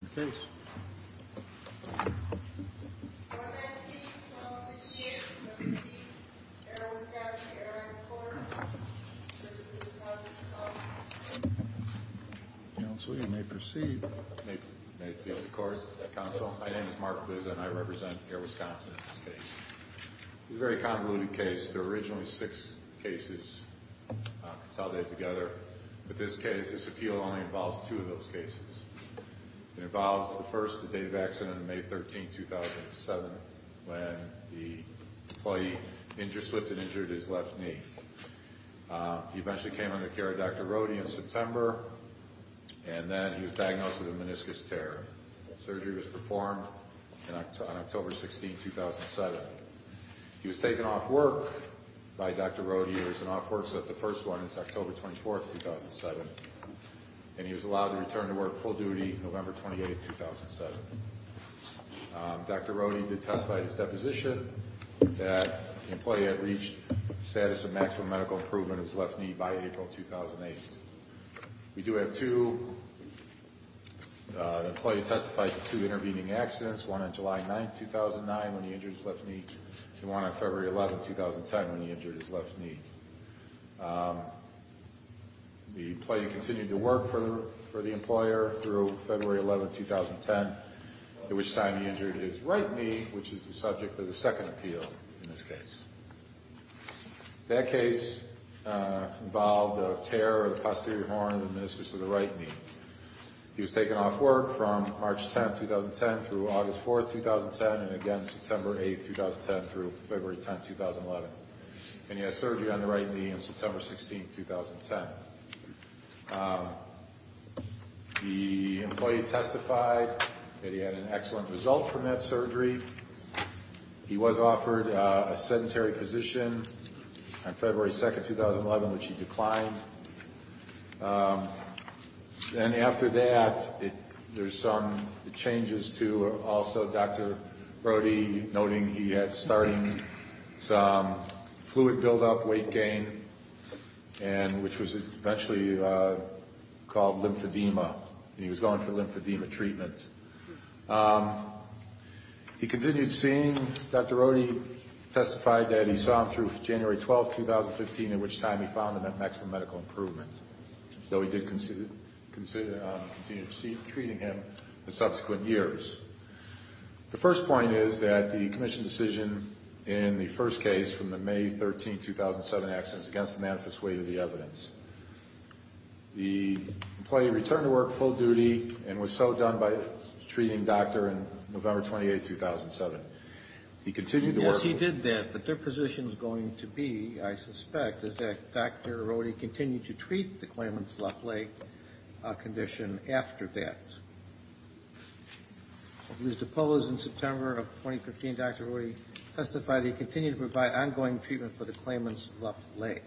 In the case 119-12-16-17, Air Wisconsin Airlines Corp. v. The Workers' Compensation Commission Counsel, you may proceed. May it please the Court, Counsel. My name is Mark Liz and I represent Air Wisconsin in this case. It's a very convoluted case. There were originally six cases consolidated together. In this case, this appeal only involves two of those cases. It involves the first, the day of accident, May 13, 2007, when the employee injured his left knee. He eventually came under the care of Dr. Rohde in September and then he was diagnosed with a meniscus tear. The surgery was performed on October 16, 2007. He was taken off work by Dr. Rohde. There's an off work set. The first one is October 24, 2007. And he was allowed to return to work full duty November 28, 2007. Dr. Rohde did testify at his deposition that the employee had reached the status of maximum medical improvement of his left knee by April 2008. We do have two. The employee testified to two intervening accidents, one on July 9, 2009, when he injured his left knee, and one on February 11, 2010, when he injured his left knee. The employee continued to work for the employer through February 11, 2010, at which time he injured his right knee, which is the subject of the second appeal in this case. That case involved a tear of the posterior horn of the meniscus of the right knee. He was taken off work from March 10, 2010, through August 4, 2010, and again September 8, 2010, through February 10, 2011. And he had surgery on the right knee on September 16, 2010. The employee testified that he had an excellent result from that surgery. He was offered a sedentary position on February 2, 2011, which he declined. And after that, there's some changes to also Dr. Rohde, noting he had started some fluid buildup, weight gain, and which was eventually called lymphedema, and he was going for lymphedema treatment. He continued seeing Dr. Rohde, testified that he saw him through January 12, 2015, at which time he found him at maximum medical improvement, though he did continue treating him in subsequent years. The first point is that the commission decision in the first case from the May 13, 2007 accidents against the manifest weight of the evidence. The employee returned to work full duty and was so done by a treating doctor in November 28, 2007. He continued to work full duty. Yes, he did that, but their position is going to be, I suspect, is that Dr. Rohde continued to treat the claimant's left leg condition after that. Mr. Polos, in September of 2015, Dr. Rohde testified he continued to provide ongoing treatment for the claimant's left leg.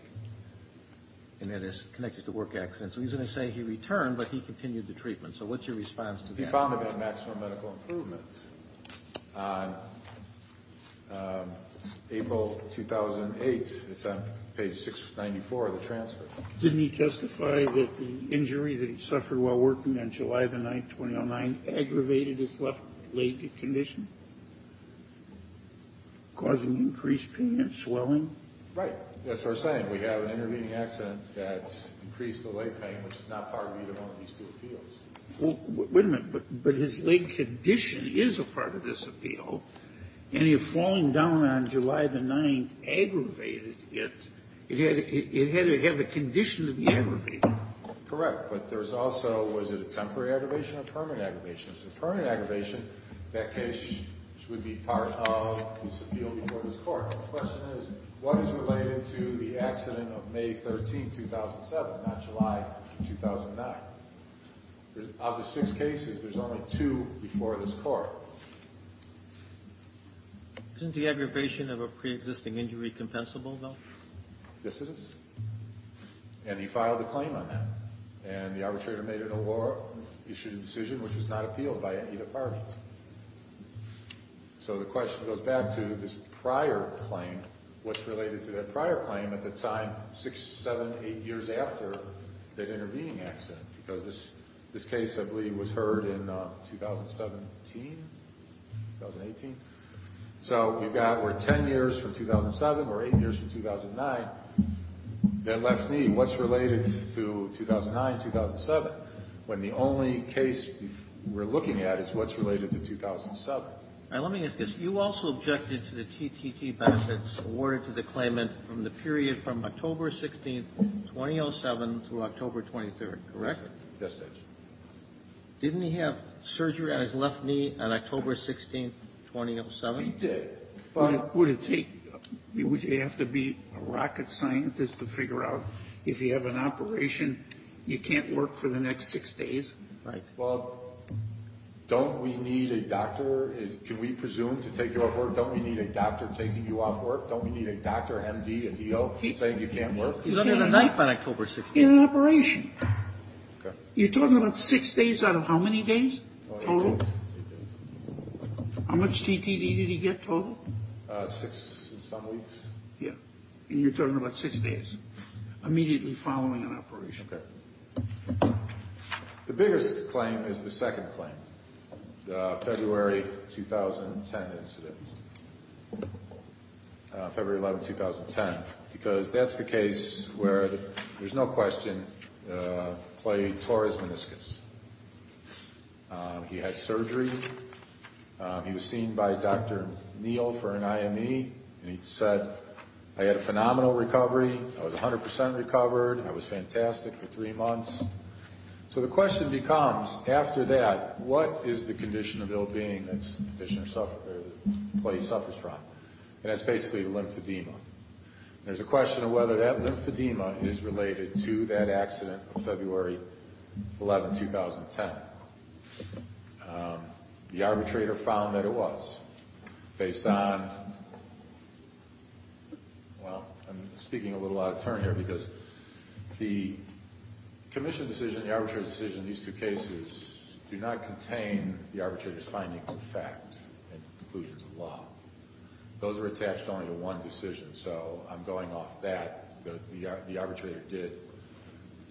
And that is connected to work accidents. So he's going to say he returned, but he continued the treatment. So what's your response to that? He found him at maximum medical improvement on April 2008. It's on page 694 of the transfer. Didn't he testify that the injury that he suffered while working on July the 9th, 2009, aggravated his left leg condition, causing increased pain and swelling? Right. That's what I'm saying. We have an intervening accident that's increased the leg pain, which is not part of even one of these two appeals. Wait a minute. But his leg condition is a part of this appeal. And if falling down on July the 9th aggravated it, it had to have a condition to be aggravated. Correct. But there's also, was it a temporary aggravation or permanent aggravation? If it's a permanent aggravation, that case would be part of this appeal before this Court. The question is, what is related to the accident of May 13, 2007, not July 2009? Of the six cases, there's only two before this Court. Isn't the aggravation of a preexisting injury compensable, though? Yes, it is. And he filed a claim on that. And the arbitrator made it a law, issued a decision, which was not appealed by either party. So the question goes back to this prior claim, what's related to that prior claim at the time, six, seven, eight years after that intervening accident? Because this case, I believe, was heard in 2017, 2018? So you've got, we're 10 years from 2007, we're eight years from 2009. Then left knee, what's related to 2009, 2007, when the only case we're looking at is what's related to 2007? Now, let me ask this. You also objected to the TTT benefits awarded to the claimant from the period from October 16th, 2007, through October 23rd, correct? Yes, Judge. Didn't he have surgery on his left knee on October 16th, 2007? He did. But would it take, would you have to be a rocket scientist to figure out if you have an operation, you can't work for the next six days? Right. Well, don't we need a doctor? Can we presume to take you off work? Don't we need a doctor taking you off work? Don't we need a doctor, M.D., a D.O. saying you can't work? He's under the knife on October 16th. In an operation. Okay. You're talking about six days out of how many days total? How much TTT did he get total? Six and some weeks. Yeah. And you're talking about six days immediately following an operation. Okay. The biggest claim is the second claim, the February 2010 incident, February 11th, 2010, because that's the case where there's no question Clay tore his meniscus. He had surgery. He was seen by Dr. Neal for an IME, and he said, I had a phenomenal recovery. I was 100% recovered. I was fantastic for three months. So the question becomes, after that, what is the condition of ill-being that Clay suffers from? And that's basically lymphedema. There's a question of whether that lymphedema is related to that accident of February 11th, 2010. The arbitrator found that it was, based on, well, I'm speaking a little out of turn here, because the commission decision and the arbitrator's decision in these two cases do not contain the arbitrator's findings of fact and conclusions of law. Those are attached only to one decision, so I'm going off that. The arbitrator did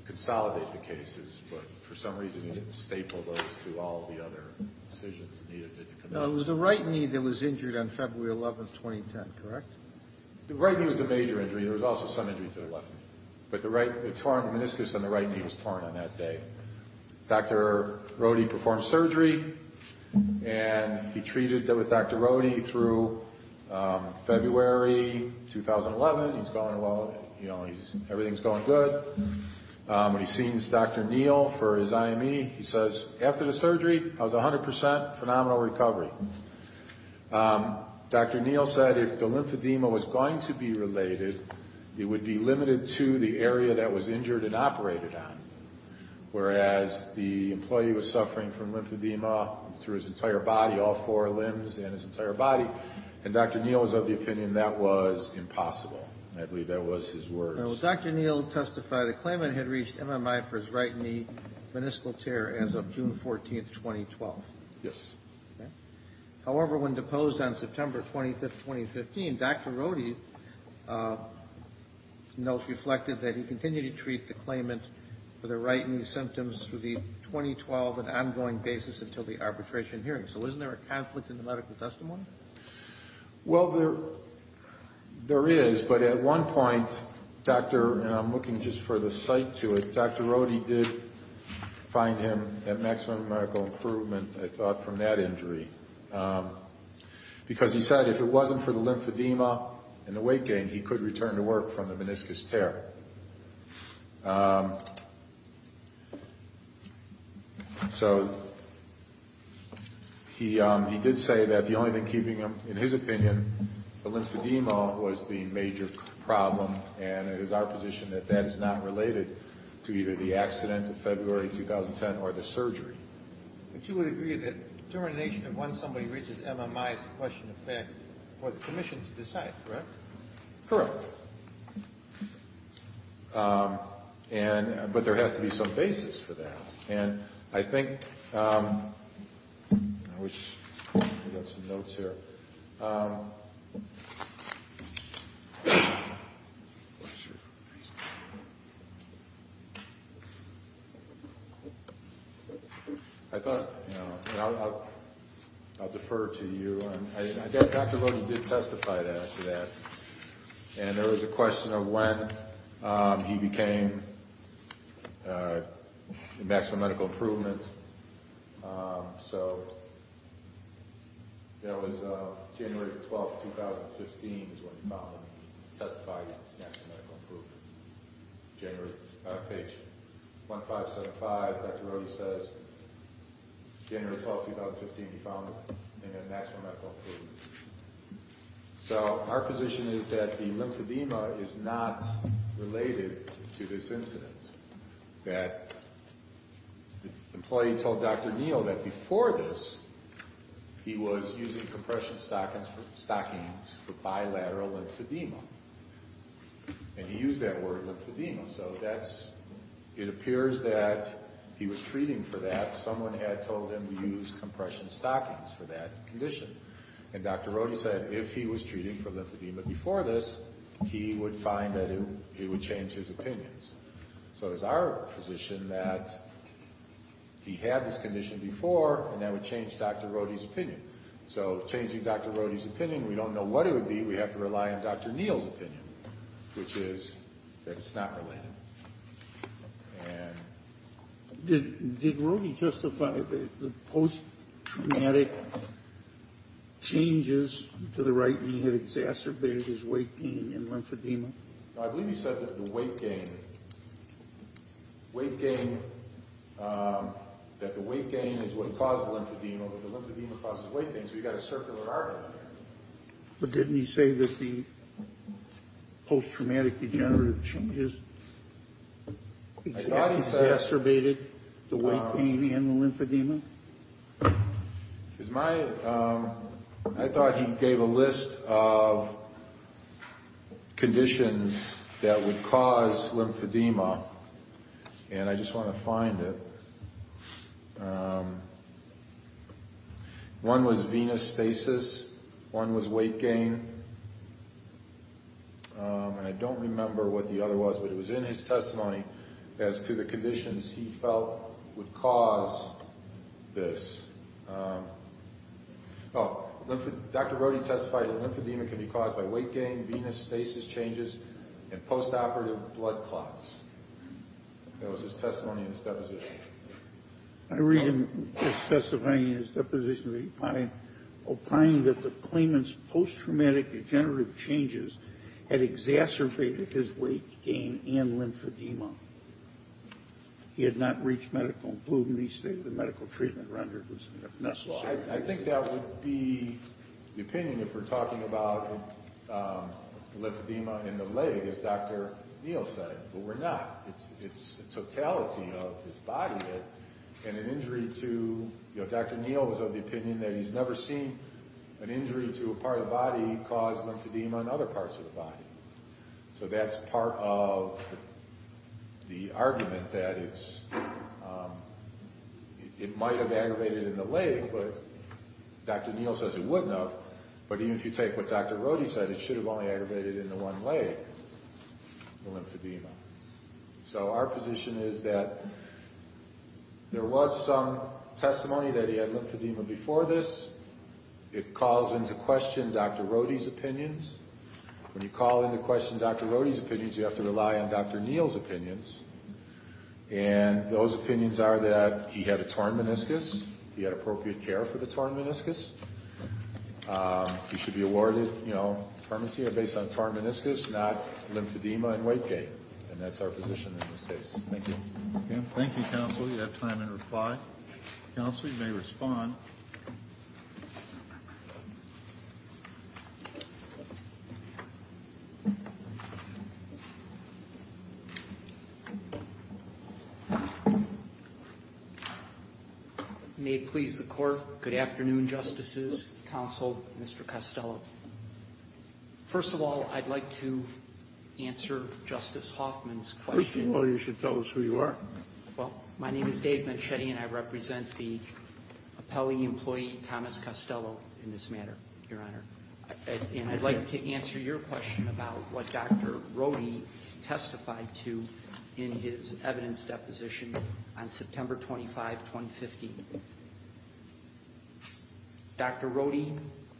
consolidate the cases, but for some reason he didn't staple those to all the other decisions needed by the commission. No, it was the right knee that was injured on February 11th, 2010, correct? The right knee was the major injury. There was also some injury to the left knee. But the torn meniscus on the right knee was torn on that day. Dr. Rohde performed surgery, and he treated with Dr. Rohde through February 2011. He's going well. Everything's going good. When he sees Dr. Neal for his IME, he says, After the surgery, I was 100 percent phenomenal recovery. Dr. Neal said if the lymphedema was going to be related, it would be limited to the area that was injured and operated on, whereas the employee was suffering from lymphedema through his entire body, all four limbs and his entire body, and Dr. Neal was of the opinion that was impossible. I believe that was his words. Dr. Neal testified a claimant had reached MMI for his right knee, meniscal tear, as of June 14th, 2012. Yes. However, when deposed on September 25th, 2015, Dr. Rohde's notes reflected that he continued to treat the claimant for the right knee symptoms through the 2012 and ongoing basis until the arbitration hearing. So isn't there a conflict in the medical testimony? Well, there is, but at one point, Dr. – and I'm looking just for the site to it – Dr. Rohde did find him at maximum medical improvement, I thought, from that injury, because he said if it wasn't for the lymphedema and the weight gain, he could return to work from the meniscus tear. So he did say that the only thing keeping him, in his opinion, the lymphedema was the major problem, and it is our position that that is not related to either the accident of February 2010 or the surgery. But you would agree that determination of when somebody reaches MMI is a question of fact for the commission to decide, correct? Correct. And – but there has to be some basis for that. And I think – I wish I got some notes here. I thought – and I'll defer to you. I bet Dr. Rohde did testify to that. And there was a question of when he became in maximum medical improvement. So that was January 12, 2015 is when he found him and he testified he was in maximum medical improvement. January – page 1575, Dr. Rohde says January 12, 2015, he found him in a maximum medical improvement. So our position is that the lymphedema is not related to this incident, that the employee told Dr. Neal that before this, he was using compression stockings for bilateral lymphedema. And he used that word, lymphedema. So that's – it appears that he was treating for that. Someone had told him to use compression stockings for that condition. And Dr. Rohde said if he was treating for lymphedema before this, he would find that it would change his opinions. So it is our position that he had this condition before and that would change Dr. Rohde's opinion. So changing Dr. Rohde's opinion, we don't know what it would be. We have to rely on Dr. Neal's opinion, which is that it's not related. Did Rohde justify the post-traumatic changes to the right knee had exacerbated his weight gain in lymphedema? I believe he said that the weight gain – weight gain – that the weight gain is what caused the lymphedema. The lymphedema causes weight gain. So you've got a circular argument there. But didn't he say that the post-traumatic degenerative changes had exacerbated the weight gain and the lymphedema? I thought he gave a list of conditions that would cause lymphedema, and I just want to find it. One was venous stasis. One was weight gain. And I don't remember what the other was, but it was in his testimony as to the conditions he felt would cause this. Oh, Dr. Rohde testified that lymphedema can be caused by weight gain, venous stasis changes, and post-operative blood clots. That was his testimony in his deposition. I read him testifying in his deposition that he opined that the claimant's post-traumatic degenerative changes had exacerbated his weight gain and lymphedema. He had not reached medical improvement. He stated the medical treatment rendered was necessary. I think that would be the opinion if we're talking about lymphedema in the leg, as Dr. Neal said. But we're not. It's the totality of his body. Dr. Neal was of the opinion that he's never seen an injury to a part of the body cause lymphedema in other parts of the body. So that's part of the argument that it might have aggravated in the leg, but Dr. Neal says it wouldn't have. But even if you take what Dr. Rohde said, it should have only aggravated in the one leg, the lymphedema. So our position is that there was some testimony that he had lymphedema before this. It calls into question Dr. Rohde's opinions. When you call into question Dr. Rohde's opinions, you have to rely on Dr. Neal's opinions. And those opinions are that he had a torn meniscus. He had appropriate care for the torn meniscus. He should be awarded permanency based on torn meniscus, not lymphedema and weight gain. And that's our position in this case. Thank you. Thank you, Counsel. You have time in reply. Counsel, you may respond. May it please the Court, good afternoon, Justices, Counsel, Mr. Costello. First of all, I'd like to answer Justice Hoffman's question. Well, you should tell us who you are. Well, my name is Dave Menchetti, and I represent the appellee employee, Thomas Costello, in this matter, Your Honor. And I'd like to answer your question about what Dr. Rohde testified to in his evidence deposition on September 25, 2015. Dr. Rohde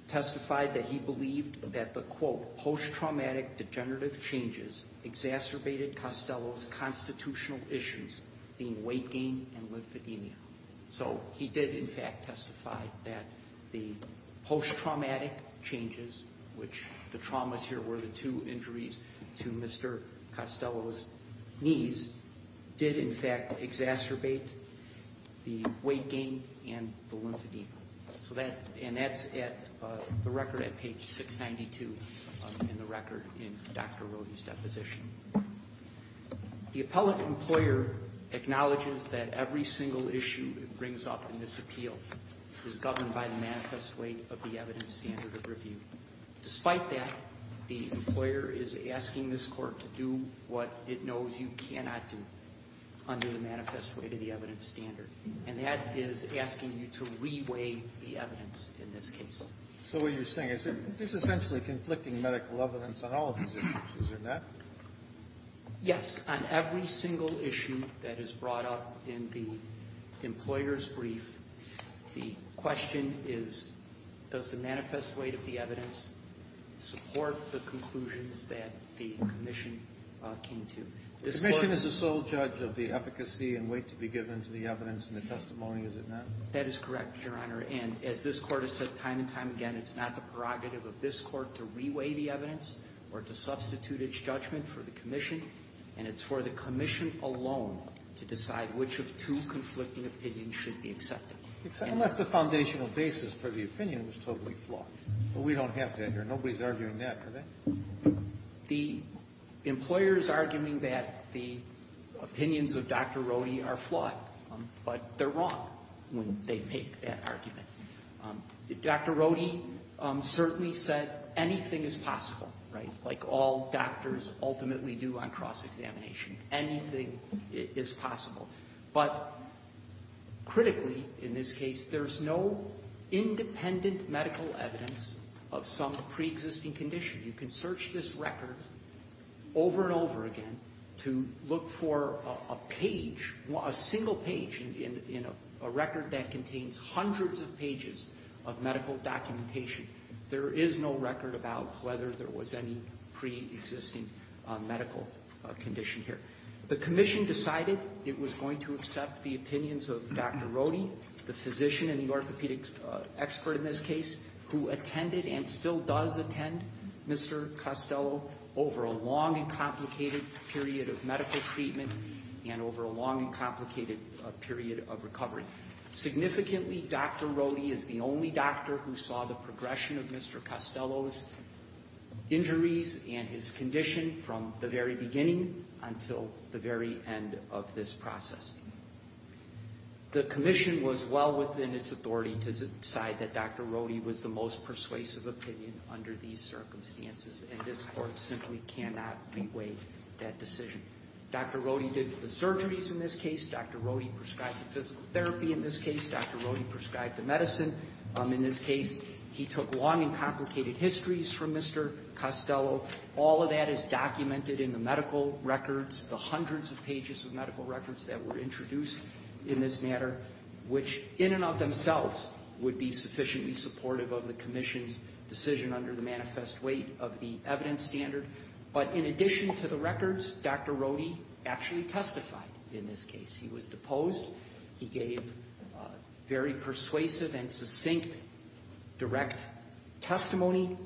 testified that he believed that the, quote, post-traumatic degenerative changes exacerbated Costello's constitutional issues, being weight gain and lymphedema. So he did, in fact, testify that the post-traumatic changes, which the traumas here were the two injuries to Mr. Costello's knees, did, in fact, exacerbate the weight gain and the lymphedema. So that, and that's at the record at page 692 in the record in Dr. Rohde's deposition. The appellate employer acknowledges that every single issue it brings up in this appeal is governed by the manifest weight of the evidence standard of review. Despite that, the employer is asking this Court to do what it knows you cannot do under the manifest weight of the evidence standard, and that is asking you to re-weigh the evidence in this case. So what you're saying is there's essentially conflicting medical evidence on all of these issues, isn't there? Yes. On every single issue that is brought up in the employer's brief, the question is, does the manifest weight of the evidence support the conclusions that the Commission came to? This Court — The Commission is the sole judge of the efficacy and weight to be given to the evidence in the testimony, is it not? That is correct, Your Honor. And as this Court has said time and time again, it's not the prerogative of this Court to re-weigh the evidence or to substitute its judgment for the Commission, and it's for the Commission alone to decide which of two conflicting opinions should be accepted. Unless the foundational basis for the opinion was totally flawed. But we don't have that here. Nobody is arguing that, are they? The employer is arguing that the opinions of Dr. Rodi are flawed, but they're wrong when they make that argument. Dr. Rodi certainly said anything is possible, right, like all doctors ultimately do on cross-examination. Anything is possible. But critically in this case, there's no independent medical evidence of some preexisting condition. You can search this record over and over again to look for a page, a single page in a record that contains hundreds of pages of medical documentation. There is no record about whether there was any preexisting medical condition here. The Commission decided it was going to accept the opinions of Dr. Rodi, the physician and the orthopedic expert in this case, who attended and still does attend Mr. Costello over a long and complicated period of medical treatment and over a long and complicated period of recovery. Significantly, Dr. Rodi is the only doctor who saw the progression of Mr. Costello's injuries and his condition from the very beginning until the very end of this process. The Commission was well within its authority to decide that Dr. Rodi was the most persuasive opinion under these circumstances, and this Court simply cannot reweigh that decision. Dr. Rodi did the surgeries in this case. Dr. Rodi prescribed the physical therapy in this case. Dr. Rodi prescribed the medicine in this case. He took long and complicated histories from Mr. Costello. All of that is documented in the medical records, the hundreds of pages of medical records that were introduced in this matter, which in and of themselves would be sufficiently supportive of the Commission's decision under the manifest weight of the evidence standard. But in addition to the records, Dr. Rodi actually testified in this case. He was deposed. He gave very persuasive and succinct direct testimony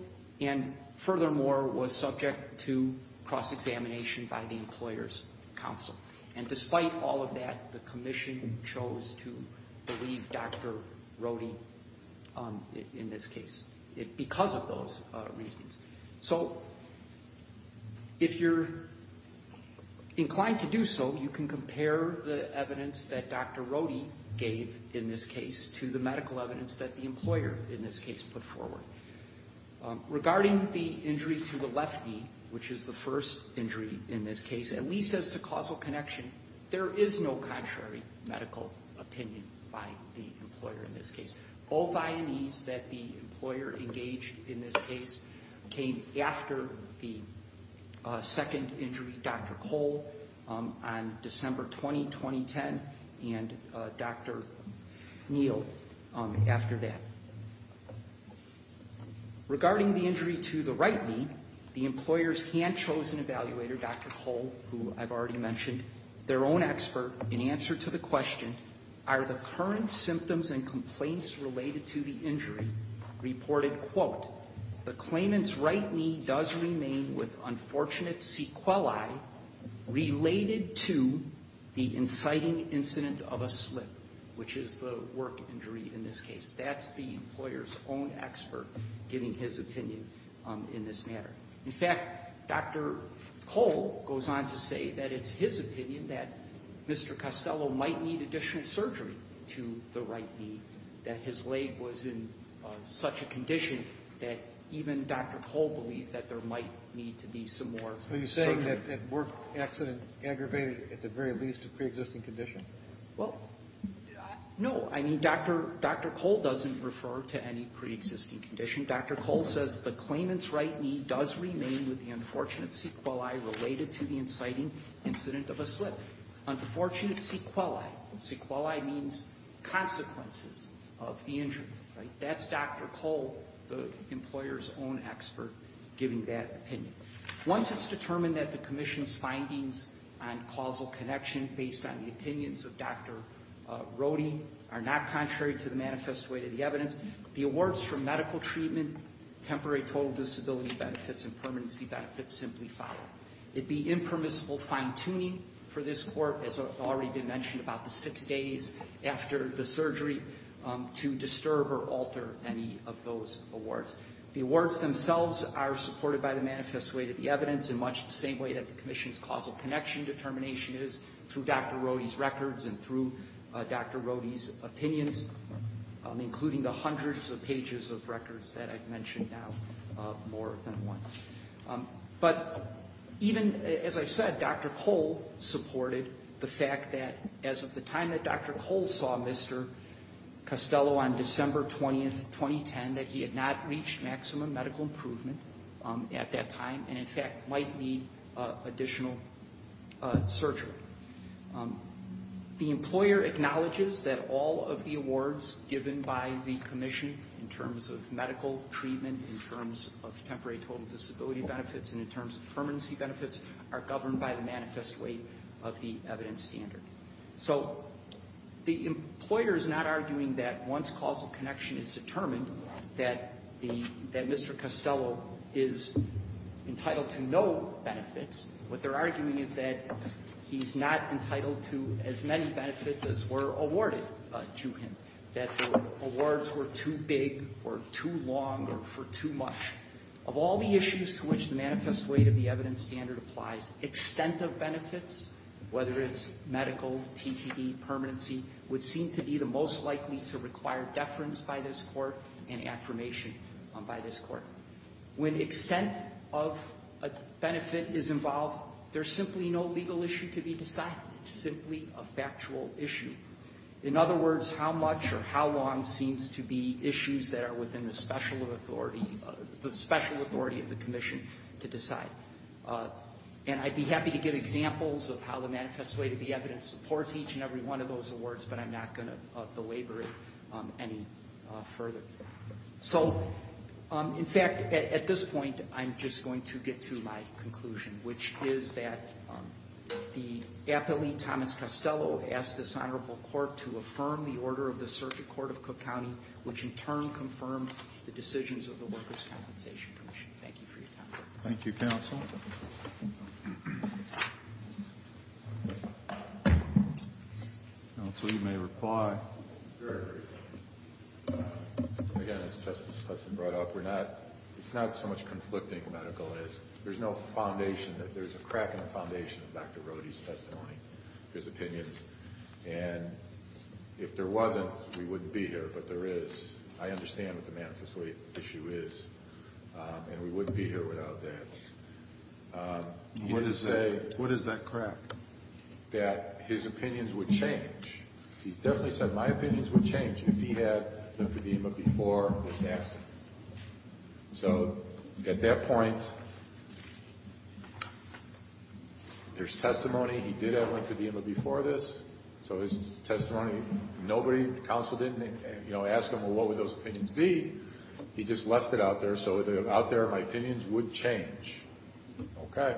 and furthermore was subject to cross-examination by the Employers' Council. And despite all of that, the Commission chose to believe Dr. Rodi in this case because of those reasons. So if you're inclined to do so, you can compare the evidence that Dr. Rodi gave in this case to the medical evidence that the employer in this case put forward. Regarding the injury to the left knee, which is the first injury in this case, at least as to causal connection, there is no contrary medical opinion by the employer in this case. Both IMEs that the employer engaged in this case came after the second injury, Dr. Cole, on December 20, 2010, and Dr. Neal after that. Regarding the injury to the right knee, the employer's hand-chosen evaluator, Dr. Cole, who I've already mentioned, their own expert, in answer to the question, are the current symptoms and complaints related to the injury reported, quote, the claimant's right knee does remain with unfortunate sequelae related to the inciting incident of a slip, which is the work injury in this case. That's the employer's own expert giving his opinion in this matter. In fact, Dr. Cole goes on to say that it's his opinion that Mr. Costello might need additional surgery to the right knee, that his leg was in such a condition that even Dr. Cole believed that there might need to be some more surgery. So you're saying that work accident aggravated, at the very least, a preexisting condition? Well, no. I mean, Dr. Cole doesn't refer to any preexisting condition. Dr. Cole says the claimant's right knee does remain with the unfortunate sequelae related to the inciting incident of a slip. Unfortunate sequelae. Sequelae means consequences of the injury. That's Dr. Cole, the employer's own expert, giving that opinion. Once it's determined that the commission's findings on causal connection based on the opinions of Dr. Rohde are not contrary to the manifest way to the evidence, the awards for medical treatment, temporary total disability benefits, and permanency benefits simply follow. It'd be impermissible fine-tuning for this court, as already been mentioned, about the six days after the surgery to disturb or alter any of those awards. The awards themselves are supported by the manifest way to the evidence in much the same way that the commission's causal connection determination is through Dr. Rohde's records and through Dr. Rohde's opinions, including the hundreds of pages of records that I've mentioned now more than once. But even, as I've said, Dr. Cole supported the fact that as of the time that Dr. Cole saw Mr. Costello on December 20th, 2010, that he had not reached maximum medical improvement at that time and, in fact, might need additional surgery. The employer acknowledges that all of the awards given by the commission in terms of disability benefits and in terms of permanency benefits are governed by the manifest way of the evidence standard. So the employer is not arguing that once causal connection is determined that Mr. Costello is entitled to no benefits. What they're arguing is that he's not entitled to as many benefits as were awarded to him, that the awards were too big or too long or for too much. Of all the issues to which the manifest way of the evidence standard applies, extent of benefits, whether it's medical, TTD, permanency, would seem to be the most likely to require deference by this Court and affirmation by this Court. When extent of a benefit is involved, there's simply no legal issue to be decided. It's simply a factual issue. In other words, how much or how long seems to be issues that are within the special authority of the commission to decide. And I'd be happy to give examples of how the manifest way of the evidence supports each and every one of those awards, but I'm not going to belabor it any further. So, in fact, at this point, I'm just going to get to my conclusion, which is that the appellee, Thomas Costello, asked this Honorable Court to affirm the order of the decisions of the workers' compensation commission. Thank you for your time. Thank you, Counsel. Counsel, you may reply. Sure. Again, as Justice Hudson brought up, it's not so much conflicting medical. There's no foundation. There's a crack in the foundation of Dr. Rohde's testimony, his opinions, and if there is, and we wouldn't be here without that. What is that crack? That his opinions would change. He's definitely said, my opinions would change if he had been for the EMMA before this accident. So, at that point, there's testimony. He did have one for the EMMA before this. So his testimony, nobody, the counsel didn't ask him, well, what would those opinions be? He just left it out there. So, out there, my opinions would change. Okay.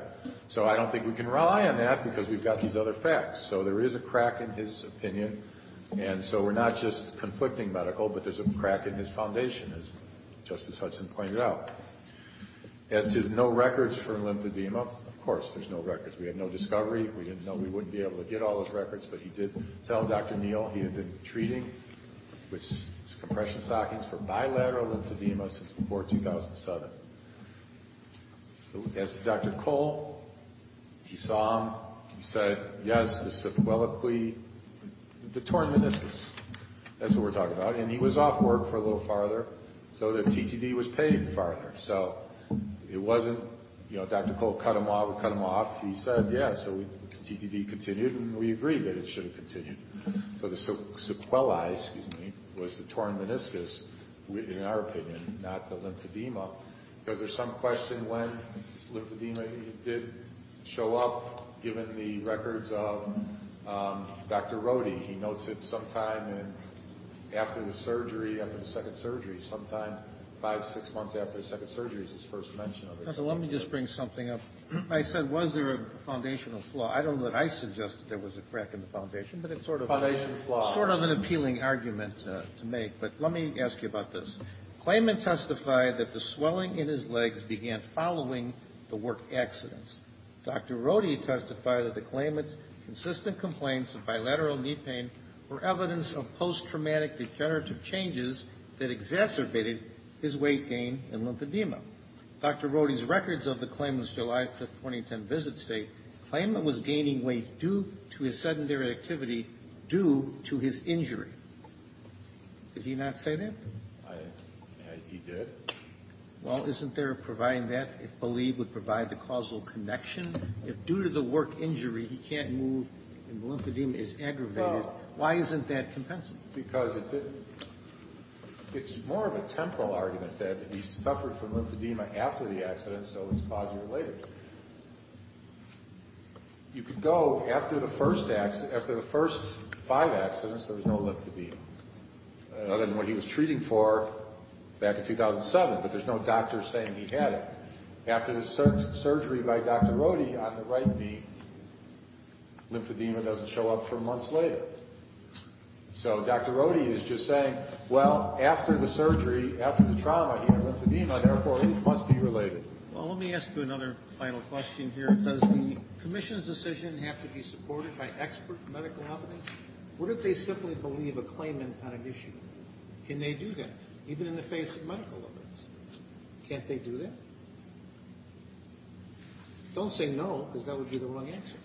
So, I don't think we can rely on that because we've got these other facts. So, there is a crack in his opinion. And so, we're not just conflicting medical, but there's a crack in his foundation, as Justice Hudson pointed out. As to no records for lymphedema, of course, there's no records. We had no discovery. We didn't know we wouldn't be able to get all those records, but he did tell Dr. Neal he had been treating with compression stockings for bilateral lymphedema since before 2007. As to Dr. Cole, he saw him. He said, yes, the syphiloquy, the torn meniscus, that's what we're talking about. And he was off work for a little farther, so the TTD was paid farther. So, it wasn't, you know, Dr. Cole cut him off, we cut him off. He said, yeah, so the TTD continued, and we agreed that it should have continued. So, the sequelae, excuse me, was the torn meniscus, in our opinion, not the lymphedema. Because there's some question when lymphedema did show up, given the records of Dr. Rodey. He notes it sometime after the surgery, after the second surgery, sometime five, six months after the second surgery is his first mention of it. Dr. Rodey. Let me just bring something up. I said, was there a foundational flaw? I don't know that I suggested there was a crack in the foundation, but it's sort of an appealing argument to make. But let me ask you about this. Claimant testified that the swelling in his legs began following the work accidents. Dr. Rodey testified that the claimant's consistent complaints of bilateral knee pain were evidence of post-traumatic degenerative changes that exacerbated his weight gain and lymphedema. Dr. Rodey's records of the claimant's July 5, 2010 visit state, claimant was gaining weight due to his sedentary activity due to his injury. Did he not say that? He did. Well, isn't there providing that, if believed, would provide the causal connection? If due to the work injury, he can't move and the lymphedema is aggravated, why isn't that compensative? Because it's more of a temporal argument that he suffered from lymphedema after the accident, so it's causally related. You could go after the first five accidents, there was no lymphedema. Other than what he was treating for back in 2007, but there's no doctor saying he had it. After the surgery by Dr. Rodey on the right knee, lymphedema doesn't show up for months later. So Dr. Rodey is just saying, well, after the surgery, after the trauma, he had lymphedema, therefore it must be related. Well, let me ask you another final question here. Does the commission's decision have to be supported by expert medical evidence? What if they simply believe a claimant had an issue? Can they do that, even in the face of medical evidence? Can't they do that? Don't say no, because that would be the wrong answer.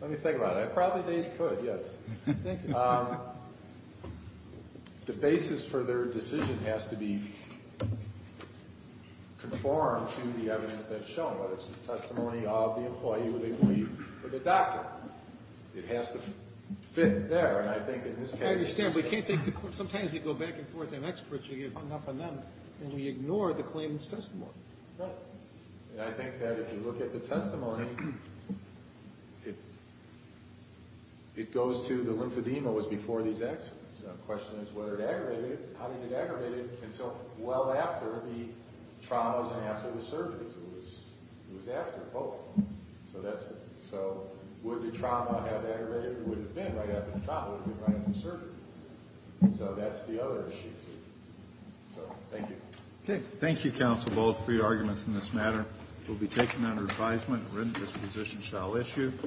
Let me think about it. Probably they could, yes. Thank you. The basis for their decision has to be conformed to the evidence they've shown, whether it's the testimony of the employee or the doctor. It has to fit there, and I think in this case it's the same. I understand, but sometimes you go back and forth, and experts are hung up on them, and we ignore the claimant's testimony. I think that if you look at the testimony, it goes to the lymphedema was before these accidents. The question is whether it aggravated it, how did it aggravate it, and so well after the traumas and after the surgery. It was after both. So would the trauma have aggravated it? It would have been right after the trauma. It would have been right after the surgery. So that's the other issue. So thank you. Okay. Thank you, Counsel Ball, for your arguments in this matter. It will be taken under advisement and written disposition shall issue.